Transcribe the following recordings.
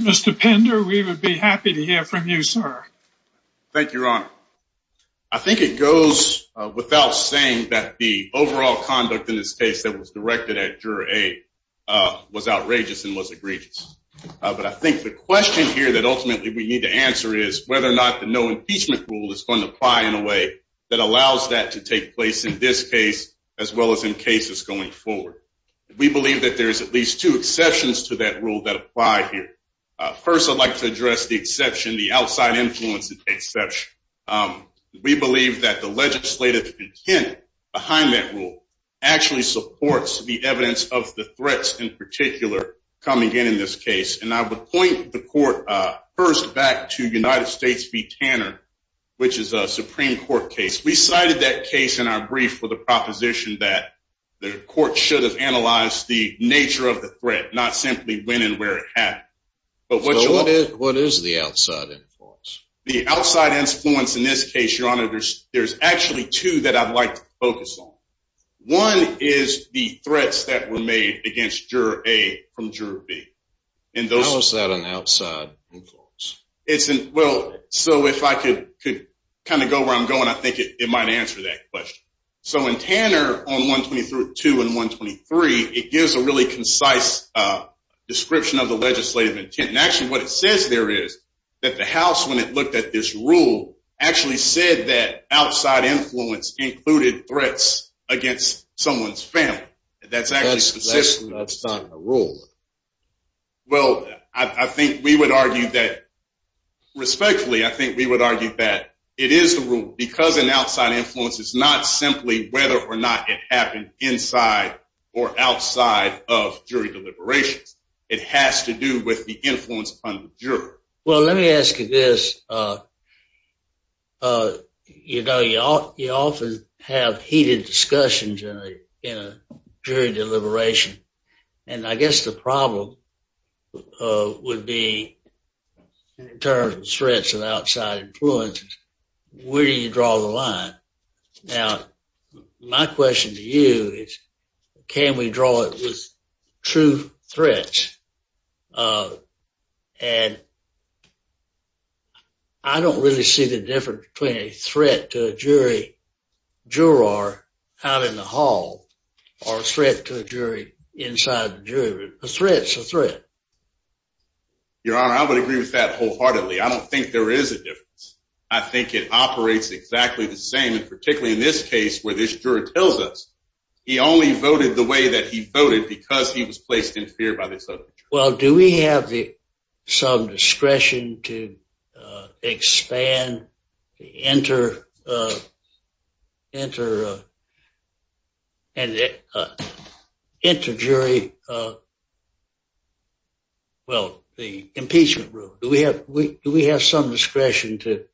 Mr. Pender, we would be happy to hear from you, sir. Thank you, Your Honor. I think it goes without saying that the overall conduct in this case that was directed at Juror A was outrageous and was egregious. But I think the question here that ultimately we need to answer is whether or not the no impeachment rule is going to apply in a way that allows that to take place in this case as well as in cases going forward. We believe that there's at least two exceptions to that rule that apply here. First, I'd like to address the exception, the outside influence exception. We believe that the legislative intent behind that rule actually supports the evidence of the threats in particular coming in in this case. And I would point the court first back to United States v. Tanner, which is a Supreme Court case. We cited that case in our brief for the proposition that the court should have analyzed the nature of the threat, not simply when and where it happened. So what is the outside influence? The outside influence in this case, Your Honor, there's actually two that I'd like to focus on. One is the threats that were made against Juror A from Juror B. How is that an outside influence? Well, so if I could kind of go where I'm going, I think it might answer that question. So in Tanner on 122 and 123, it gives a really concise description of the legislative intent. And actually what it says there is that the House, when it looked at this rule, actually said that outside influence included threats against someone's family. That's actually consistent. Well, I think we would argue that respectfully, I think we would argue that it is the rule because an outside influence is not simply whether or not it happened inside or outside of jury deliberations. It has to do with the influence on the juror. Well, let me ask you this. You know, you often have heated discussions in a jury deliberation. And I guess the problem would be in terms of threats of outside influence, where do you draw the line? Now, my question to you is, can we draw it with true threats? And I don't really see the difference between a threat to a jury juror out in the hall or a threat to a jury inside the jury room. A threat's a threat. Your Honor, I would agree with that wholeheartedly. I don't think there is a difference. I think it operates exactly the way it operates in the case where this juror tells us he only voted the way that he voted because he was placed in fear by this other juror. Well, do we have the some discretion to expand, enter, enter, and enter jury, well, the impeachment room. Do we have some discretion to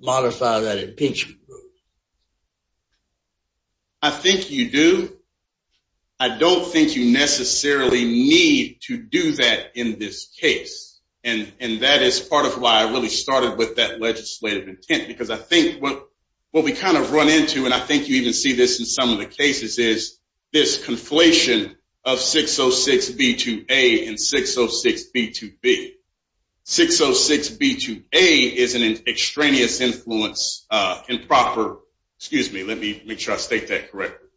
modify that impeachment room? I think you do. I don't think you necessarily need to do that in this case. And that is part of why I really started with that legislative intent. Because I think what we kind of run into, and I think you even see this in some of the cases, is this conflation of 606B2A and 606B2B. 606B2A is an extraneous influence, improper, excuse me, let me make sure I state that correctly.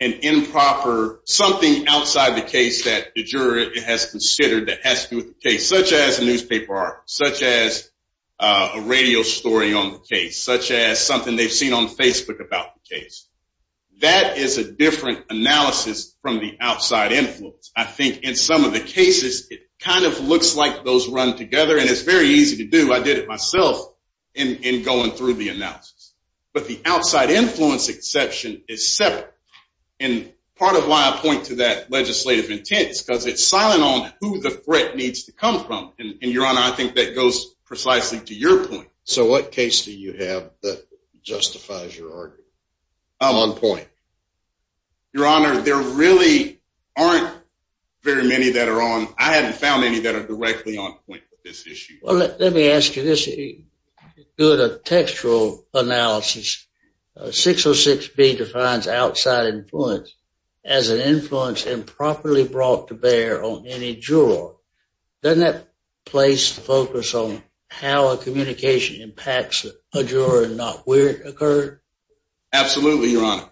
An improper, something outside the case that the juror has considered that has to do with the case, such as a newspaper article, such as a radio story on the case, such as something they've seen on Facebook about the case. That is a different analysis from the outside influence. I think in some of the cases, it kind of looks like those run together, and it's very easy to do. I did it myself in going through the analysis. But the outside influence exception is separate. And part of why I point to that legislative intent is because it's silent on who the threat needs to come from. And Your Honor, I think that goes precisely to your point. So what case do you have that justifies your argument? I'm on point. Your Honor, there really aren't very many that are on, I haven't found any that are directly on point with this issue. Well, let me ask you this, due to textual analysis, 606B defines outside influence as an influence improperly brought to bear on any juror. Doesn't that place focus on how a communication impacts a juror and not occur? Absolutely, Your Honor.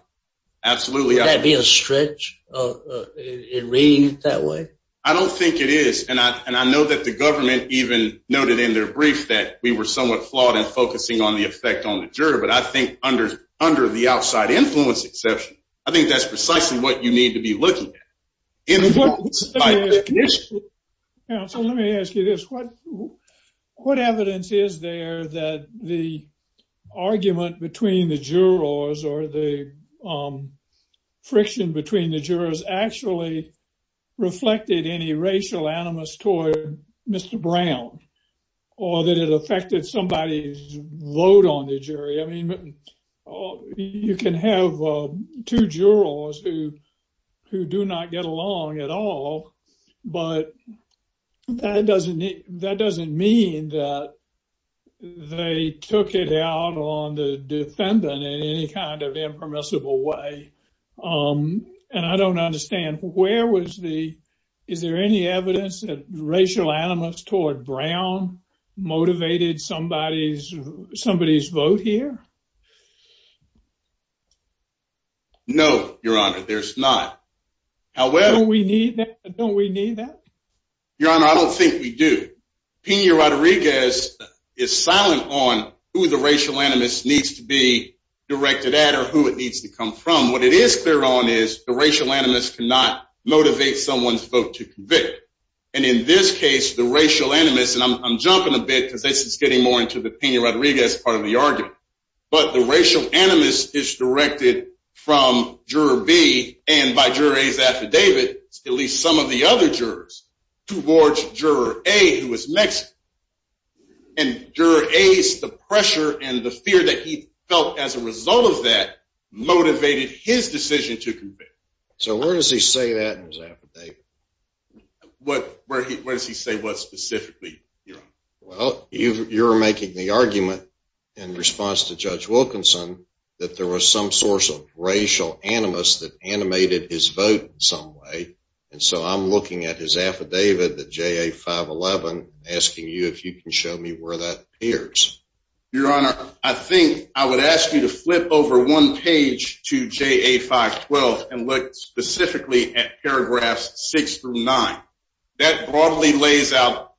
Absolutely. Would that be a stretch in reading it that way? I don't think it is. And I know that the government even noted in their brief that we were somewhat flawed in focusing on the effect on the juror. But I think under the outside influence exception, I think that's precisely what you need to be looking at. What evidence is there that the argument between the jurors or the friction between the jurors actually reflected any racial animus toward Mr. Brown, or that it affected somebody's I mean, you can have two jurors who do not get along at all. But that doesn't mean that they took it out on the defendant in any kind of impermissible way. And I don't understand, where was the, is there any evidence that racial animus toward Brown motivated somebody's vote here? No, Your Honor, there's not. Don't we need that? Don't we need that? Your Honor, I don't think we do. Pena Rodriguez is silent on who the racial animus needs to be directed at or who it needs to come from. What it is clear on is the racial animus cannot motivate someone's vote to convict. And in this case, the racial animus, and I'm jumping a bit because this is getting more into the Pena Rodriguez part of the argument, but the racial animus is directed from Juror B and by Juror A's affidavit, at least some of the other jurors, towards Juror A, who is Mexican. And Juror A's, the pressure and the fear that he felt as a result of that motivated his decision to convict. So where does he say that in his affidavit? Where does he say what specifically, Your Honor? Well, you're making the argument in response to Judge Wilkinson that there was some source of racial animus that animated his vote in some way. And so I'm looking at his affidavit, the JA-511, asking you if you can show me where that pairs. Your Honor, I think I would ask you to flip over one page to JA-512 and look specifically at paragraphs 6 through 9. That broadly lays out,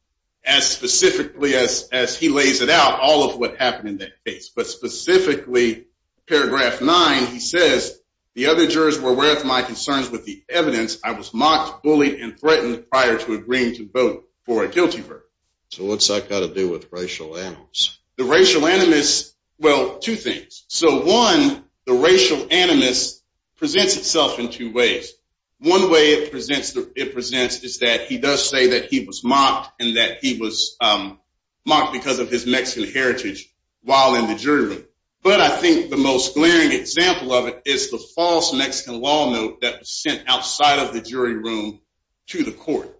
as specifically as he lays it out, all of what happened in that case. But specifically, paragraph 9, he says, the other jurors were aware of my concerns with the evidence. I was mocked, bullied, and threatened prior to agreeing to vote for a guilty verdict. So what's that got to do with racial animus? The racial animus, well, two things. So one, the racial animus presents itself in two ways. One way it presents is that he does say that he was mocked and that he was mocked because of his Mexican heritage while in the jury room. But I think the most glaring example of it is the false Mexican law note that was sent outside of the jury room to the court.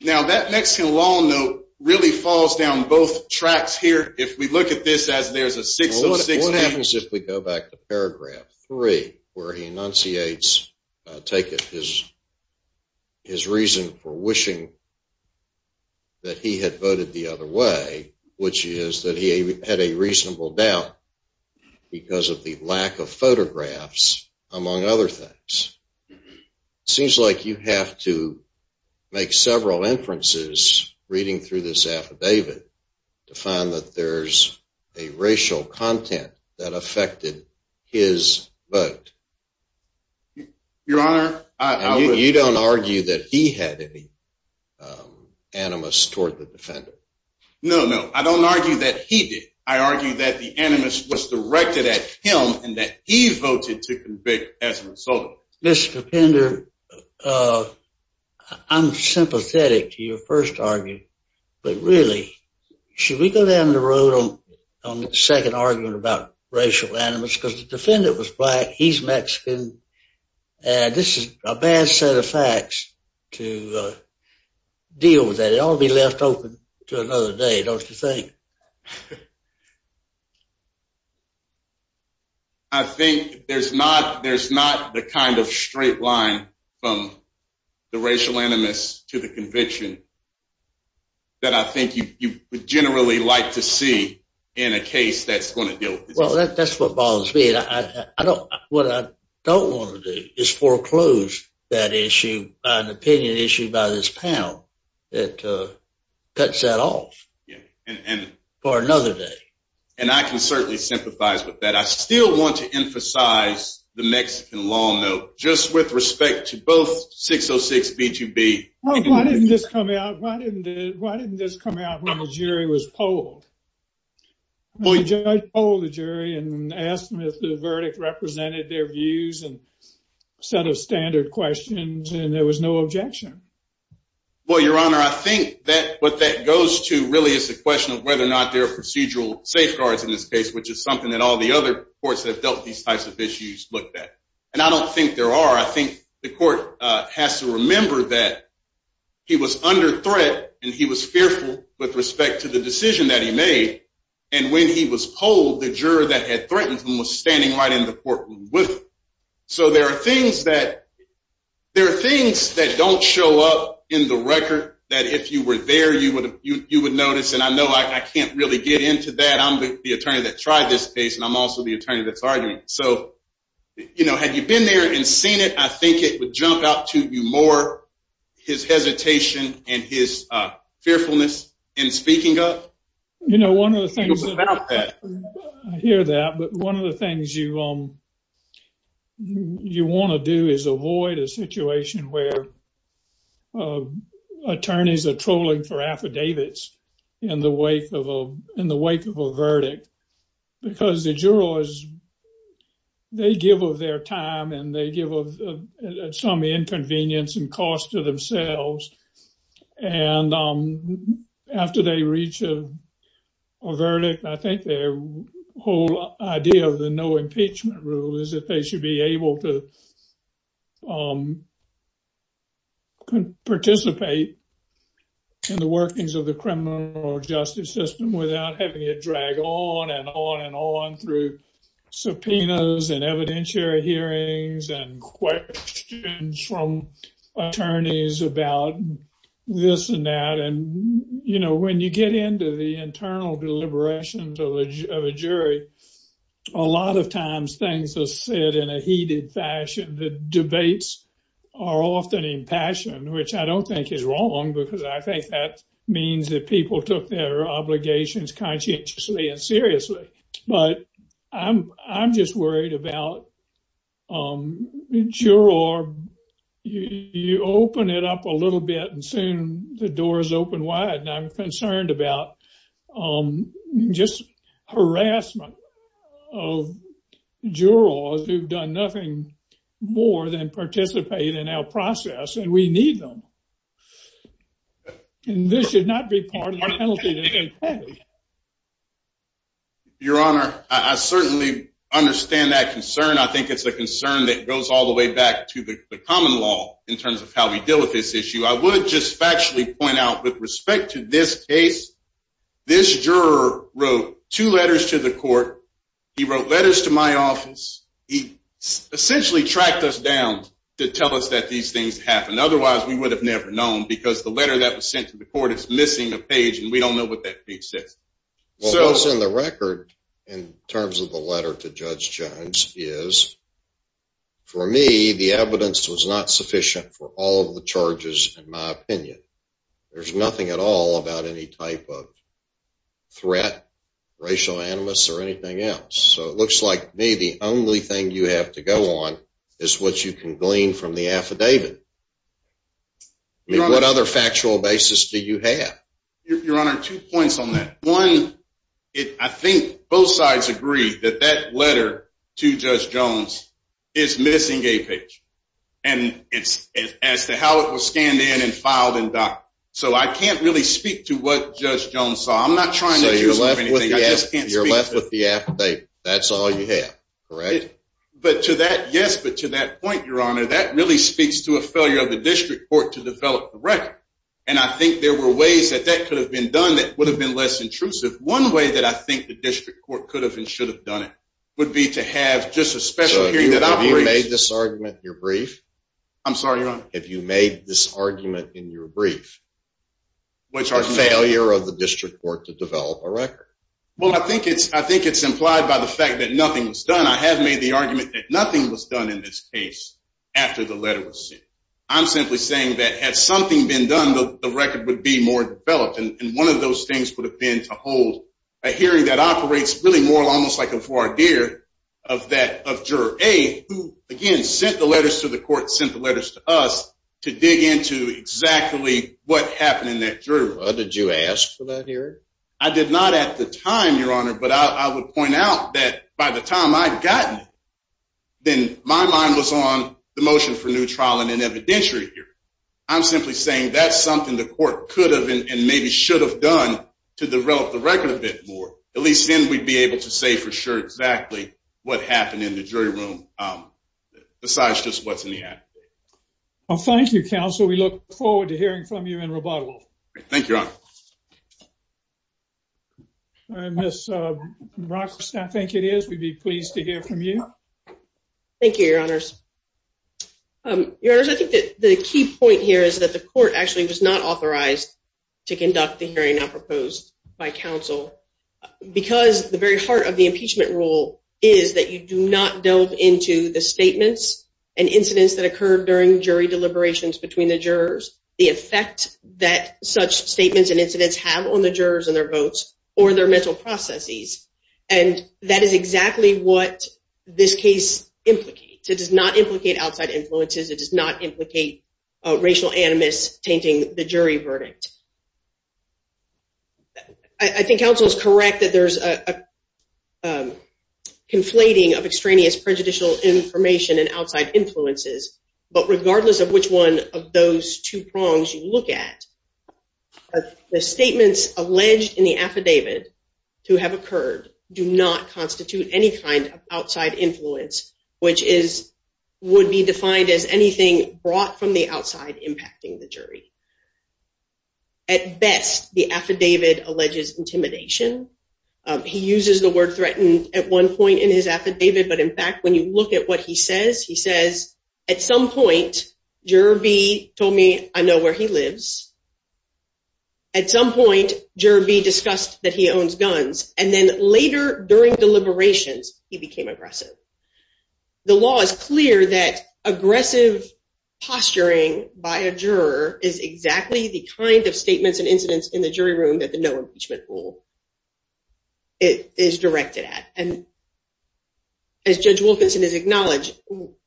Now, that Mexican law note really falls down both tracks here. If we look at this as there's a 6 and a 6 and a 8. What happens if we go back to paragraph 3, where he enunciates, take it, his reason for wishing that he had voted the other way, which is that he had a reasonable doubt because of the lack of photographs, among other things. It seems like you have to make several inferences reading through this affidavit to find that there's a racial content that affected his vote. Your Honor, I would- You don't argue that he had any animus toward the defendant? No, no. I don't argue that he did. I argue that the animus was directed at him and that he voted to convict as a result. Mr. Pender, I'm sympathetic to your first argument. But really, should we go down the road on the second argument about racial animus? Because the defendant was black, he's Mexican, and this is a bad set of facts to deal with that. They ought to be left open to another day, don't you think? I think there's not the kind of straight line from the racial animus to the conviction that I think you would generally like to see in a case that's going to deal with this. Well, that's what bothers me. What I don't want to do is foreclose that opinion issue by this panel that cuts that off for another day. And I can certainly sympathize with that. I still want to emphasize the Mexican law note, just with respect to both 606 B2B- Well, why didn't this come out when the jury was polled? Well, the judge polled the jury and asked them if the verdict represented their views and set of standard questions, and there was no objection. Well, Your Honor, I think that what that goes to really is the question of whether or not there are procedural safeguards in this case, which is something that all the other courts that have dealt with these types of issues looked at. And I don't think there are. I think the court has to remember that he was under threat, and he was fearful with respect to the decision that he made. And when he was polled, the juror that had threatened him was standing right in the courtroom with him. So there are things that don't show up in the record that if you were there, you would notice. And I know I can't really get into that. I'm the attorney that tried this case, and I'm also the attorney that's arguing. So had you been there and seen it, I think it would jump out to you more, his hesitation and his fearfulness in speaking up. You know, I hear that, but one of the things you want to do is avoid a situation where attorneys are trolling for affidavits in the wake of a verdict, because the jurors, they give of their time, and they give of some inconvenience and cost to themselves. And after they reach a verdict, I think their whole idea of the no impeachment rule is that they should be able to participate in the workings of the criminal justice system without having it drag on and on and on through subpoenas and evidentiary hearings and questions from attorneys about this and that. And when you get into the internal deliberations of a jury, a lot of times things are said in a heated fashion. The debates are often impassioned, which I don't think is wrong, because I think that means that people took their obligations conscientiously and seriously. But I'm just worried about juror, you open it up a little bit and soon the doors open wide. And I'm concerned about just harassment of jurors who've done nothing more than participate in our process, and we need them. And this should not be part of our penalty. Your Honor, I certainly understand that concern. I think it's a concern that goes all the way back to the common law in terms of how we deal with this issue. I would just factually point out with respect to this case, this juror wrote two letters to the court. He wrote letters to my office. He essentially tracked us down to tell us that these things happened. Otherwise, we would have never known, because the letter that was sent to the court is missing a page, and we don't know what that page says. What was in the record in terms of the letter to Judge Jones is, for me, the evidence was not sufficient for all of the charges in my opinion. There's nothing at all about any type of threat, racial animus, or anything else. So it looks like maybe the only thing you have to go on is what you can glean from the affidavit. I mean, what other factual basis do you have? Your Honor, two points on that. One, I think both sides agree that that letter to Judge Jones is missing a page as to how it was scanned in and filed and docked. So I can't really speak to what Judge Jones saw. I'm not trying to accuse him of anything. You're left with the affidavit. That's all you have, correct? Yes, but to that point, Your Honor, that really speaks to a failure of the District Court to develop the record. And I think there were ways that that could have been done that would have been less intrusive. One way that I think the District Court could have and should have done it would be to have just a special hearing that operates. So have you made this argument in your brief? I'm sorry, Your Honor? Have you made this argument in your brief? Which argument? The failure of the District Court to develop a record. Well, I think it's implied by the fact that nothing was done. I have made the argument that nothing was done in this case after the letter was sent. I'm simply saying that had something been done, the record would be more developed. And one of those things would have been to hold a hearing that operates really more almost like a voir dire of that of Juror A, who, again, sent the letters to the court, sent the letters to us to dig into exactly what happened in that jury room. Did you ask for that hearing? I did not at the time, Your Honor. But I would point out that by the time I'd gotten it, then my mind was on the motion for new trial in an evidentiary hearing. I'm simply saying that's something the court could have and maybe should have done to develop the record a bit more. At least then we'd be able to say for sure exactly what happened in the jury room, besides just what's in the act. Well, thank you, Counsel. We look forward to hearing from you in Robotov. Thank you, Your Honor. Ms. Rock, I think it is. We'd be pleased to hear from you. Thank you, Your Honors. Your Honors, I think that the key point here is that the court actually was not authorized to conduct the hearing now proposed by counsel, because the very heart of the impeachment rule is that you do not delve into the statements and incidents that occurred during jury deliberations between the jurors, the effect that such statements and incidents have on the jurors and their votes, or their mental processes. And that is exactly what this case implicates. It does not implicate outside influences. It does not implicate racial animus tainting the jury verdict. I think counsel is correct that there's a conflating of extraneous prejudicial information and outside influences. But regardless of which one of those two prongs you look at, the statements alleged in the would be defined as anything brought from the outside impacting the jury. At best, the affidavit alleges intimidation. He uses the word threatened at one point in his affidavit. But in fact, when you look at what he says, he says, at some point, juror B told me I know where he lives. At some point, juror B discussed that he owns guns. And then later during deliberations, he became aggressive. The law is clear that aggressive posturing by a juror is exactly the kind of statements and incidents in the jury room that the no impeachment rule is directed at. And as Judge Wilkinson has acknowledged,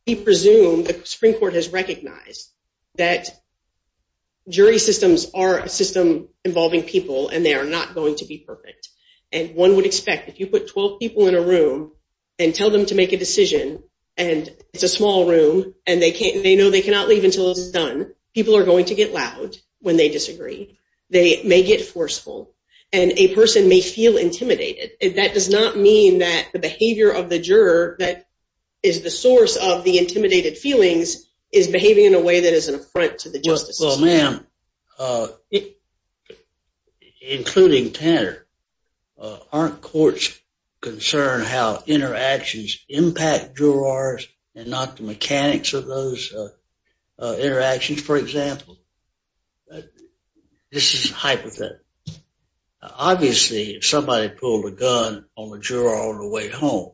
we presume the Supreme Court has recognized that jury systems are a system involving people. And they are not going to be perfect. And one would expect if you put 12 people in a room and tell them to make a decision, and it's a small room, and they know they cannot leave until it's done, people are going to get loud when they disagree. They may get forceful. And a person may feel intimidated. That does not mean that the behavior of the juror that is the source of the intimidated feelings is behaving in a way that is an affront to the justices. Well, ma'am, including Tanner, aren't courts concerned how interactions impact jurors and not the mechanics of those interactions, for example? This is a hypothetical. Obviously, if somebody pulled a gun on the juror on the way home,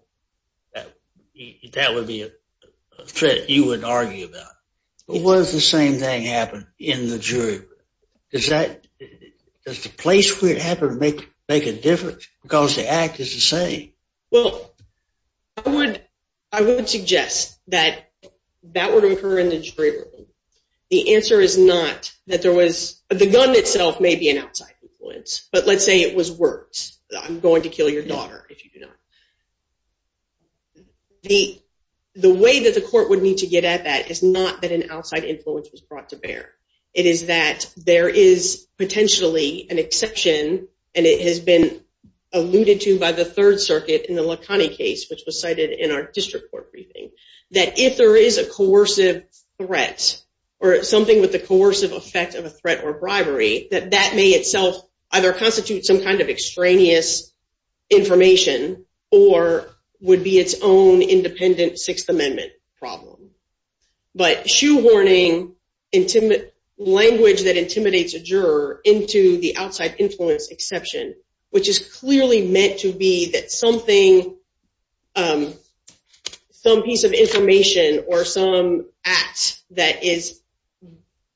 that would be a threat you wouldn't argue about. But what if the same thing happened in the jury room? Does the place where it happened make a difference? Because the act is the same. Well, I would suggest that that would occur in the jury room. The answer is not that there was. The gun itself may be an outside influence. But let's say it was words. I'm going to kill your daughter if you do not. The way that the court would need to get at that is not that an outside influence was brought to bear. It is that there is potentially an exception, and it has been alluded to by the Third Circuit in the Lacani case, which was cited in our district court briefing, that if there is a coercive threat or something with the coercive effect of a threat or bribery, that that may either constitute some kind of extraneous information or would be its own independent Sixth Amendment problem. But shoehorning language that intimidates a juror into the outside influence exception, which is clearly meant to be that some piece of information or some act that is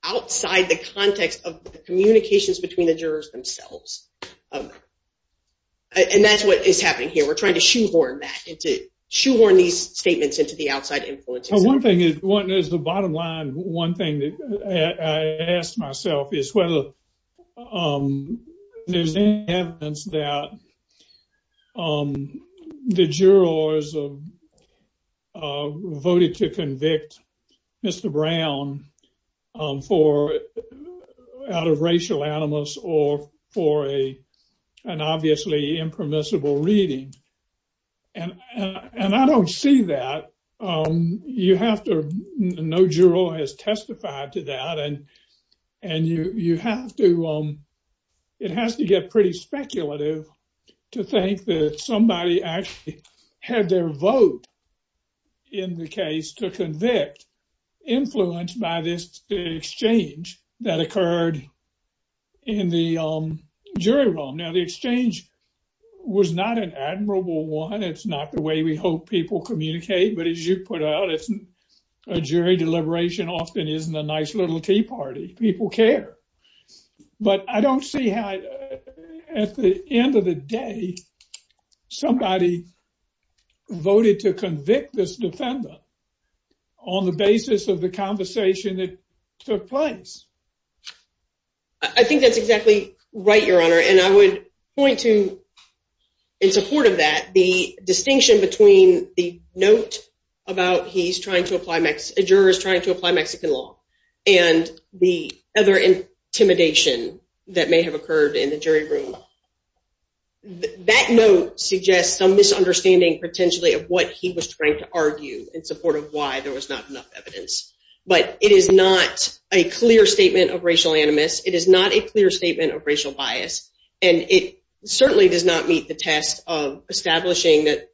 outside the context of the communications between the jurors themselves. And that's what is happening here. We're trying to shoehorn that and to shoehorn these statements into the outside influence. One thing is the bottom line. One thing that I asked myself is whether there's any evidence that the jurors voted to convict Mr. Brown out of racial animus or for an obviously impermissible reading. And I don't see that. No juror has testified to that, and it has to get pretty speculative to think that somebody actually had their vote in the case to convict, influenced by this exchange that occurred in the jury room. Now, the exchange was not an admirable one. It's not the way we hope people communicate. But as you put out, a jury deliberation often isn't a nice little tea party. People care. But I don't see how, at the end of the day, somebody voted to convict this defendant on the basis of the conversation that took place. I think that's exactly right, Your Honor. And I would point to, in support of that, the distinction between the note about he's a juror trying to apply Mexican law and the other intimidation that may have occurred in the jury room. That note suggests some misunderstanding, potentially, of what he was trying to argue in support of why there was not enough evidence. But it is not a clear statement of racial animus. It is not a clear statement of racial bias. And it certainly does not meet the test of establishing that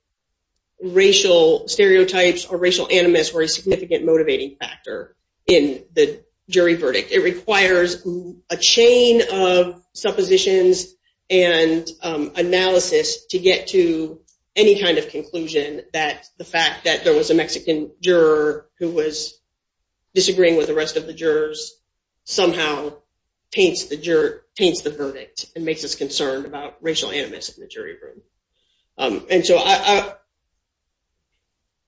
racial stereotypes or racial animus were a significant motivating factor in the jury verdict. It requires a chain of suppositions and analysis to get to any kind of conclusion that the fact that there was a Mexican juror who was disagreeing with the rest of the jurors somehow paints the verdict and makes us concerned about racial animus in the jury room. And so I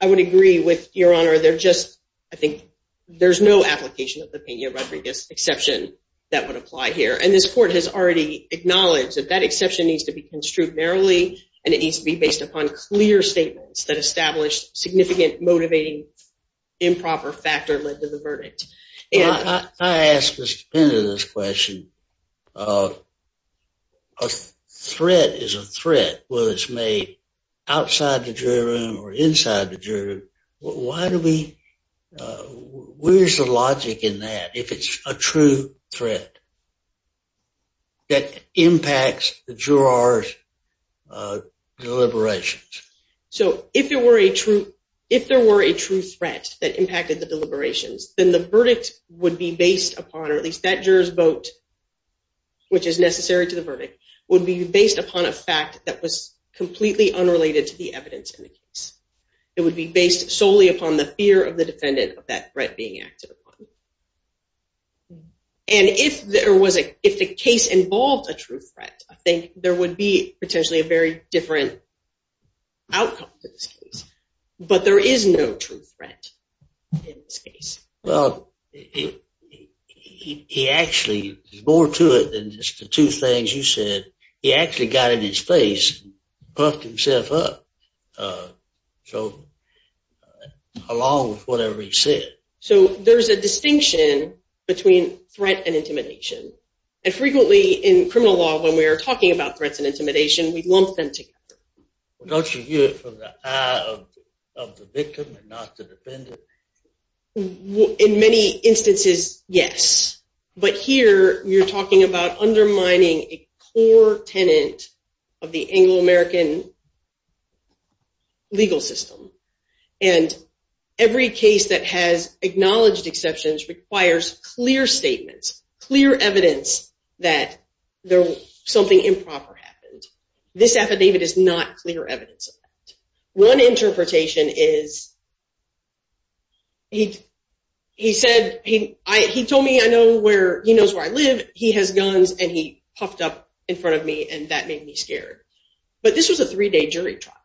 would agree with Your Honor. They're just, I think, there's no application of the Pena-Rodriguez exception that would apply here. And this court has already acknowledged that that exception needs to be construed narrowly, and it needs to be based upon clear statements that establish significant motivating improper factor led to the verdict. I ask Mr. Pena this question. A threat is a threat, whether it's made outside the jury room or inside the jury room. Where's the logic in that, if it's a true threat that impacts the jurors' deliberations? So if there were a true threat that impacted the deliberations, then the verdict would be based upon, or at least that juror's vote, which is necessary to the verdict, would be based upon a fact that was completely unrelated to the evidence in the case. It would be based solely upon the fear of the defendant of that threat being acted upon. And if there was a, if the case involved a true threat, I think there would be potentially a very different outcome to this case. But there is no true threat in this case. Well, he actually, there's more to it than just the two things you said. He actually got in his face, buffed himself up, so along with whatever he said. So there's a distinction between threat and intimidation. And frequently in criminal law, when we are talking about threats and intimidation, we lump them together. Well, don't you view it from the eye of the victim and not the defendant? In many instances, yes. But here, you're talking about undermining a core tenant of the Anglo-American legal system. And every case that has acknowledged exceptions requires clear statements, clear evidence that something improper happened. This affidavit is not clear evidence of that. One interpretation is he said, he told me he knows where I live, he has guns, and he puffed up in front of me, and that made me scared. But this was a three-day jury trial.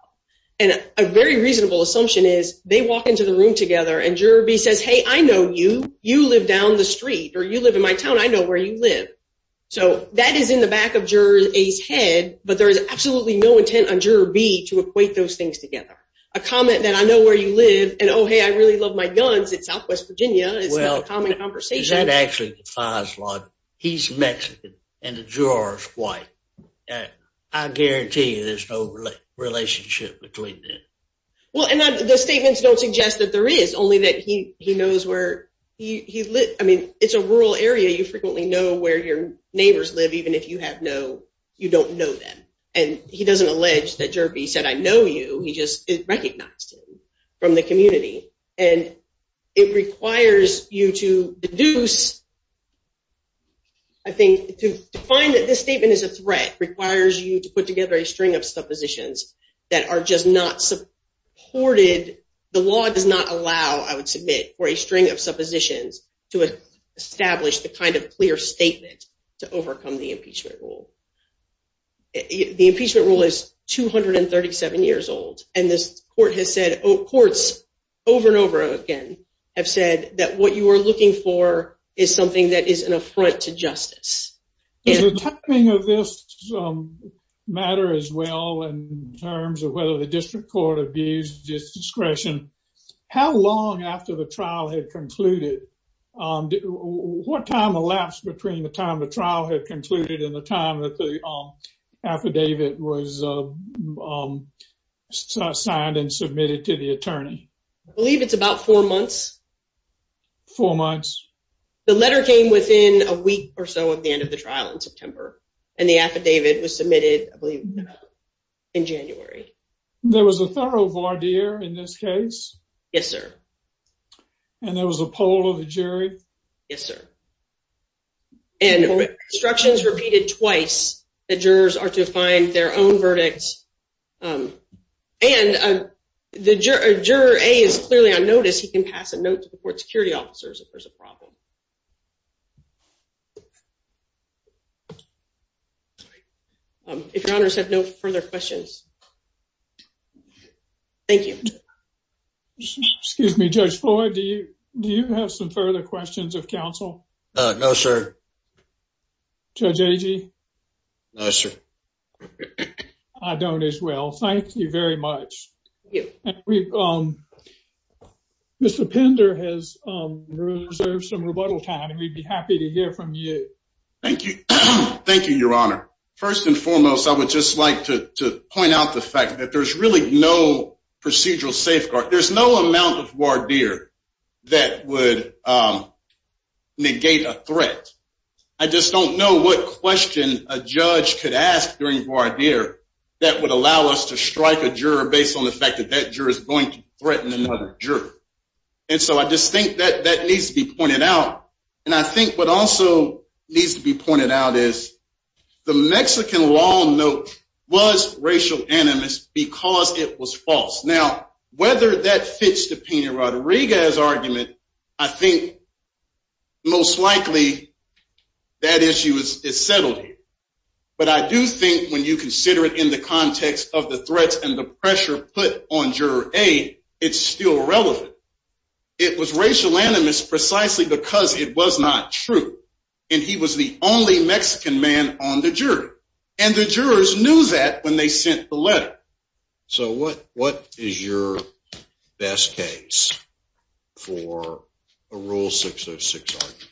And a very reasonable assumption is they walk into the room together, and Juror B says, hey, I know you. You live down the street, or you live in my town. I know where you live. So that is in the back of Juror A's head. But there is absolutely no intent on Juror B to equate those things together. A comment that I know where you live and, oh, hey, I really love my guns in southwest Virginia is not a common conversation. Well, that actually defies law. He's Mexican, and the juror is white. I guarantee you there's no relationship between them. Well, and the statements don't suggest that there is, only that he knows where he lives. I mean, it's a rural area. You frequently know where your neighbors live, even if you don't know that. And he doesn't allege that Juror B said, I know you. He just recognized him from the community. And it requires you to deduce, I think, to find that this statement is a threat, requires you to put together a string of suppositions that are just not supported. The law does not allow, I would submit, for a string of suppositions to establish the kind of clear statement to overcome the impeachment rule. The impeachment rule is 237 years old. And this court has said, courts over and over again have said that what you are looking for is something that is an affront to justice. Does the timing of this matter as well in terms of whether the district court abused discretion? How long after the trial had concluded, what time elapsed between the time the trial had concluded and the time the affidavit was signed and submitted to the attorney? I believe it's about four months. Four months. The letter came within a week or so of the end of the trial in September. And the affidavit was submitted, I believe, in January. There was a thorough voir dire in this case? Yes, sir. And there was a poll of the jury? Yes, sir. And instructions repeated twice. The jurors are to find their own verdicts. And the juror A is clearly on notice. He can pass a note to the court security officers if there's a problem. If your honors have no further questions. Thank you. Excuse me, Judge Floyd, do you have some further questions of counsel? No, sir. Judge Agee? No, sir. I don't as well. Thank you very much. Mr. Pender has reserved some rebuttal time, and we'd be happy to hear from you. Thank you. Thank you, your honor. First and foremost, I would just like to point out the fact that there's really no procedural threat. I just don't know what question a judge could ask during voir dire that would allow us to strike a juror based on the fact that that juror is going to threaten another juror. And so I just think that that needs to be pointed out. And I think what also needs to be pointed out is the Mexican law note was racial animus because it was false. Now, whether that fits the Pena-Rodriguez argument, I think most likely that issue is settled. But I do think when you consider it in the context of the threats and the pressure put on juror A, it's still relevant. It was racial animus precisely because it was not true. And he was the only Mexican man on the jury. And the jurors knew that when they sent the letter. So what is your best case for a Rule 606 argument?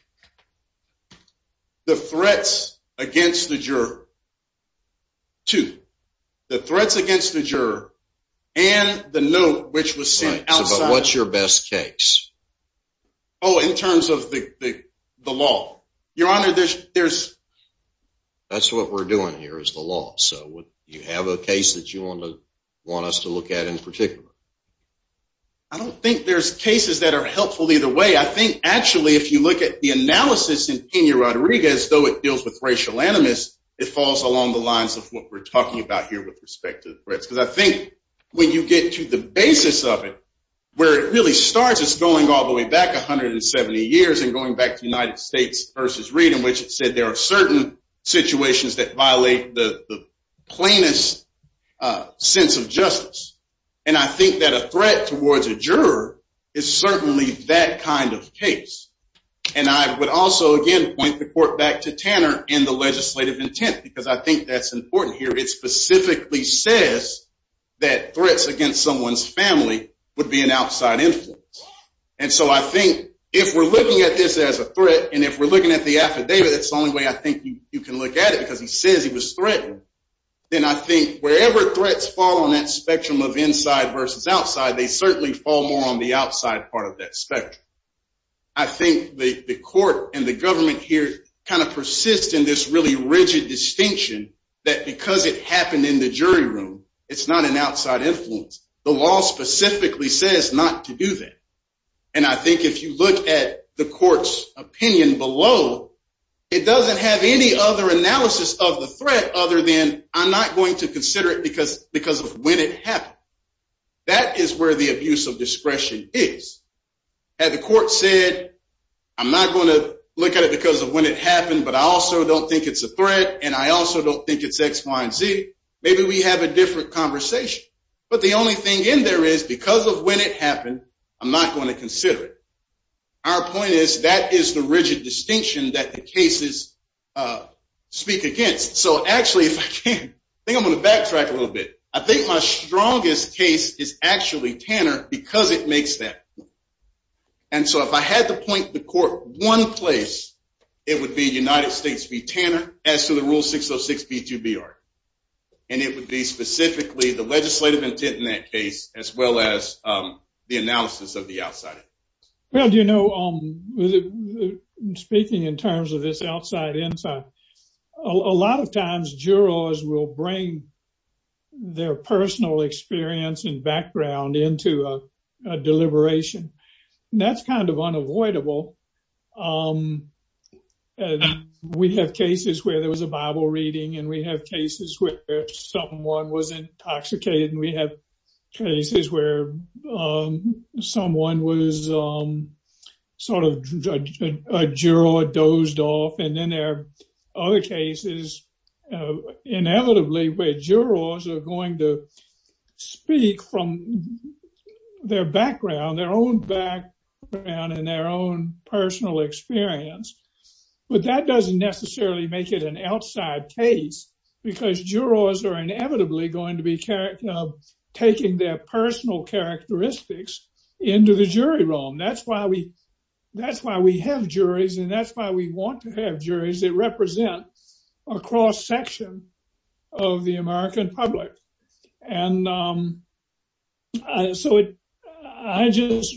The threats against the juror, two. The threats against the juror and the note which was sent outside. What's your best case? Oh, in terms of the law. Your honor, there's... That's what we're doing here is the law. You have a case that you want us to look at in particular? I don't think there's cases that are helpful either way. I think, actually, if you look at the analysis in Pena-Rodriguez, though it deals with racial animus, it falls along the lines of what we're talking about here with respect to the threats. Because I think when you get to the basis of it, where it really starts, it's going all the way back 170 years and going back to United States v. Reed, in which it said there are certain situations that violate the plainest sense of justice. And I think that a threat towards a juror is certainly that kind of case. And I would also, again, point the court back to Tanner and the legislative intent, because I think that's important here. It specifically says that threats against someone's family would be an outside influence. And so I think if we're looking at this as a threat, and if we're looking at the affidavit, that's the only way I think you can look at it, because he says he was threatened, then I think wherever threats fall on that spectrum of inside versus outside, they certainly fall more on the outside part of that spectrum. I think the court and the government here kind of persist in this really rigid distinction that because it happened in the jury room, it's not an outside influence. The law specifically says not to do that. And I think if you look at the court's opinion below, it doesn't have any other analysis of the threat other than I'm not going to consider it because of when it happened. That is where the abuse of discretion is. Had the court said, I'm not going to look at it because of when it happened, but I also don't think it's a threat, and I also don't think it's X, Y, and Z, maybe we have a different conversation. But the only thing in there is because of when it happened, I'm not going to consider it. Our point is that is the rigid distinction that the cases speak against. So actually, if I can, I think I'm going to backtrack a little bit. I think my strongest case is actually Tanner because it makes that point. And so if I had to point the court one place, it would be United States v. Tanner as to the rule 606B2BR. And it would be specifically the legislative intent in that case, as well as the analysis of the outside. Well, do you know, speaking in terms of this outside inside, a lot of times jurors will bring their personal experience and background into a deliberation. That's kind of unavoidable. We have cases where there was a Bible reading and we have cases where someone was intoxicated and we have cases where someone was sort of a juror dozed off. And then there are other cases, inevitably, where jurors are going to speak from their own background and their own personal experience. But that doesn't necessarily make it an outside case because jurors are inevitably going to be taking their personal characteristics into the jury room. That's why we have juries and that's why we want to have juries that represent a cross section of the American public. And so I just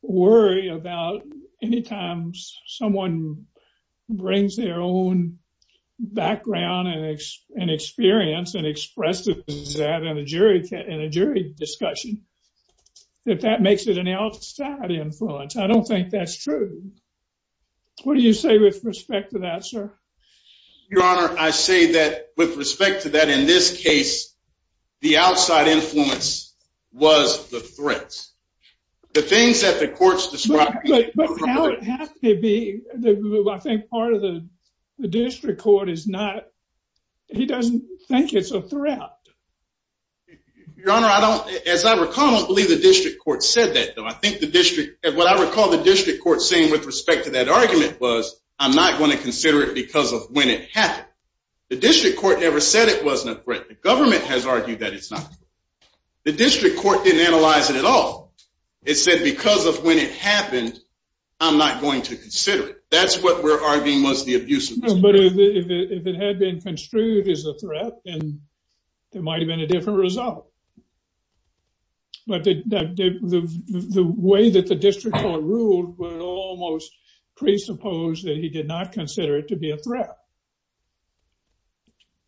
worry about any time someone brings their own background and experience and expresses that in a jury discussion, that that makes it an outside influence. I don't think that's true. What do you say with respect to that, sir? Your Honor, I say that with respect to that, in this case, the outside influence was the threats. The things that the courts described- But how it has to be, I think part of the district court is not, he doesn't think it's a threat. Your Honor, as I recall, I don't believe the district court said that, though. I think the district, what I recall the district court saying with respect to that argument was, I'm not going to consider it because of when it happened. The district court never said it wasn't a threat. The government has argued that it's not. The district court didn't analyze it at all. It said because of when it happened, I'm not going to consider it. That's what we're arguing was the abuse of- But if it had been construed as a threat, then there might have been a different result. But the way that the district court ruled would almost presuppose that he did not consider it to be a threat.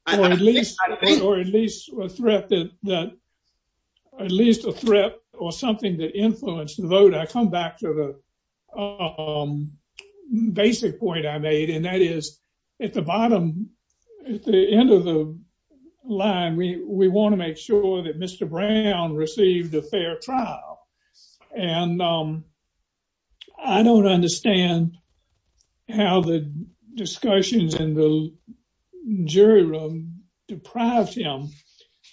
Or at least a threat that, at least a threat or something that influenced the vote. I come back to the basic point I made, and that is at the bottom, at the end of the line, we want to make sure that Mr. Brown received a fair trial. And I don't understand how the discussions in the jury room deprived him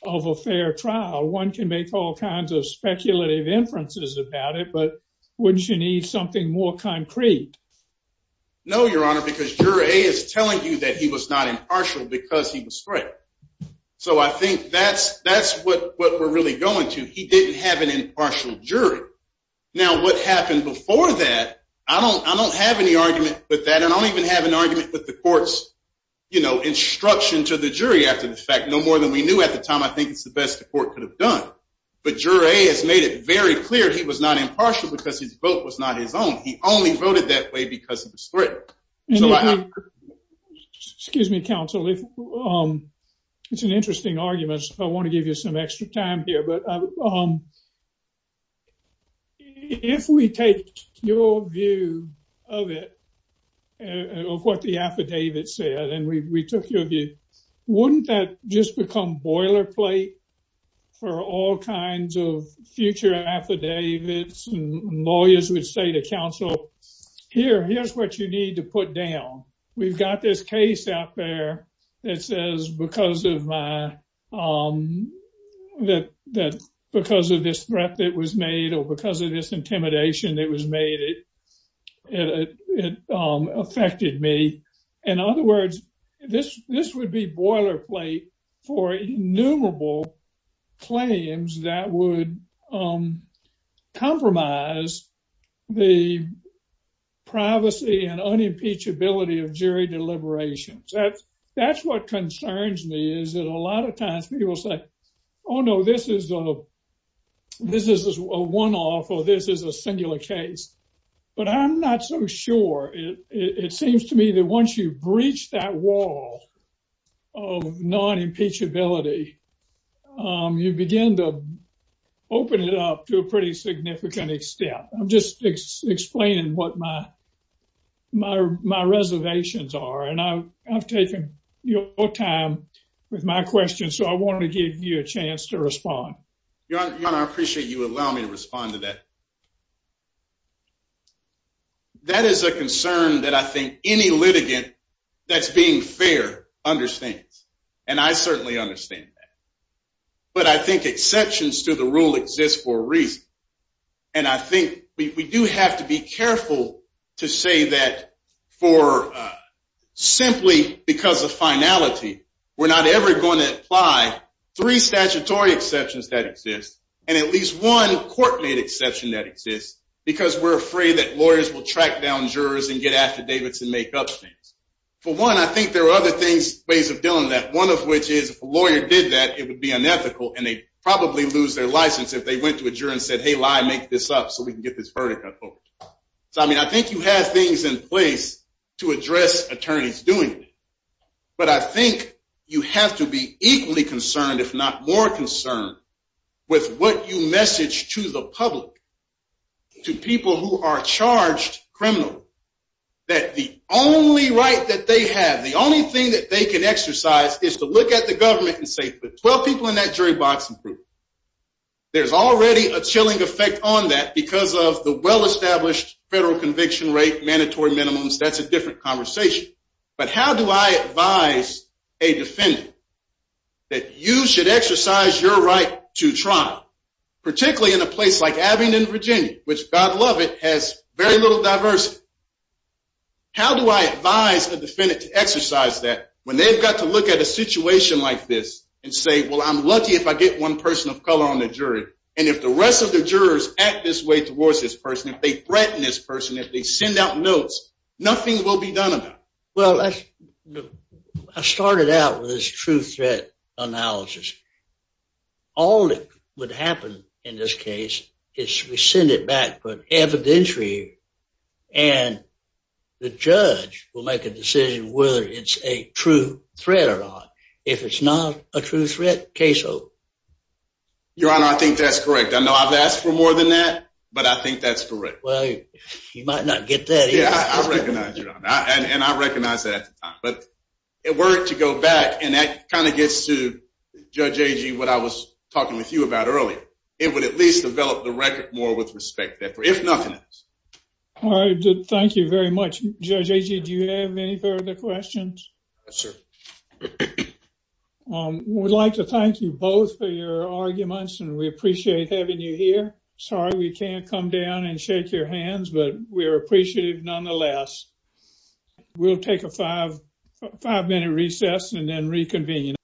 of a fair trial. One can make all kinds of speculative inferences about it, but wouldn't you need something more concrete? No, Your Honor, because Juror A is telling you that he was not impartial because he was So I think that's what we're really going to. He didn't have an impartial jury. Now, what happened before that, I don't have any argument with that. I don't even have an argument with the court's instruction to the jury after the fact. No more than we knew at the time. I think it's the best the court could have done. But Juror A has made it very clear he was not impartial because his vote was not his own. He only voted that way because of his threat. And excuse me, counsel, it's an interesting argument. I want to give you some extra time here. But if we take your view of it, of what the affidavit said, and we took your view, wouldn't that just become boilerplate for all kinds of future affidavits and lawyers would say to counsel, here, here's what you need to put down. We've got this case out there that says because of this threat that was made, or because of this intimidation that was made, it affected me. In other words, this would be boilerplate for innumerable claims that would compromise the privacy and unimpeachability of jury deliberations. That's what concerns me, is that a lot of times people say, oh no, this is a one-off, or this is a singular case. But I'm not so sure. It seems to me that once you've breached that wall of non-impeachability, you begin to open it up to a pretty significant extent. I'm just explaining what my reservations are. And I've taken your time with my questions. So I want to give you a chance to respond. Your Honor, I appreciate you allowing me to respond to that. That is a concern that I think any litigant that's being fair understands. And I certainly understand that. But I think exceptions to the rule exist for a reason. And I think we do have to be careful to say that simply because of finality, we're not ever going to apply three statutory exceptions that exist, and at least one court-made exception that exists, because we're afraid that lawyers will track down jurors and get after Davidson and make up things. For one, I think there are other ways of dealing with that, one of which is if a lawyer did that, it would be unethical, and they'd probably lose their license if they went to a juror and said, hey, lie, make this up so we can get this vertical. So I mean, I think you have things in place to address attorneys doing that. But I think you have to be equally concerned, if not more concerned, with what you message to the public, to people who are charged criminally, that the only right that they have, the only thing that they can exercise is to look at the government and say, put 12 people in that jury box and prove it. There's already a chilling effect on that because of the well-established federal conviction rate, mandatory minimums. That's a different conversation. But how do I advise a defendant that you should exercise your right to try, particularly in a place like Abingdon, Virginia, which, God love it, has very little diversity. How do I advise a defendant to exercise that when they've got to look at a situation like this and say, well, I'm lucky if I get one person of color on the jury. And if the rest of the jurors act this way towards this person, if they threaten this person, if they send out notes, nothing will be done about it. Well, I started out with this true threat analysis. All that would happen in this case is we send it back for evidentiary, and the judge will make a decision whether it's a true threat or not. If it's not a true threat, case over. Your Honor, I think that's correct. I know I've asked for more than that, but I think that's correct. Well, you might not get that. And I recognize that at the time. It worked to go back, and that kind of gets to, Judge Agee, what I was talking with you about earlier. It would at least develop the record more with respect, if nothing else. All right. Thank you very much. Judge Agee, do you have any further questions? Yes, sir. We'd like to thank you both for your arguments, and we appreciate having you here. Sorry we can't come down and shake your hands, but we're appreciative nonetheless. We'll take a five-minute recess and then reconvene.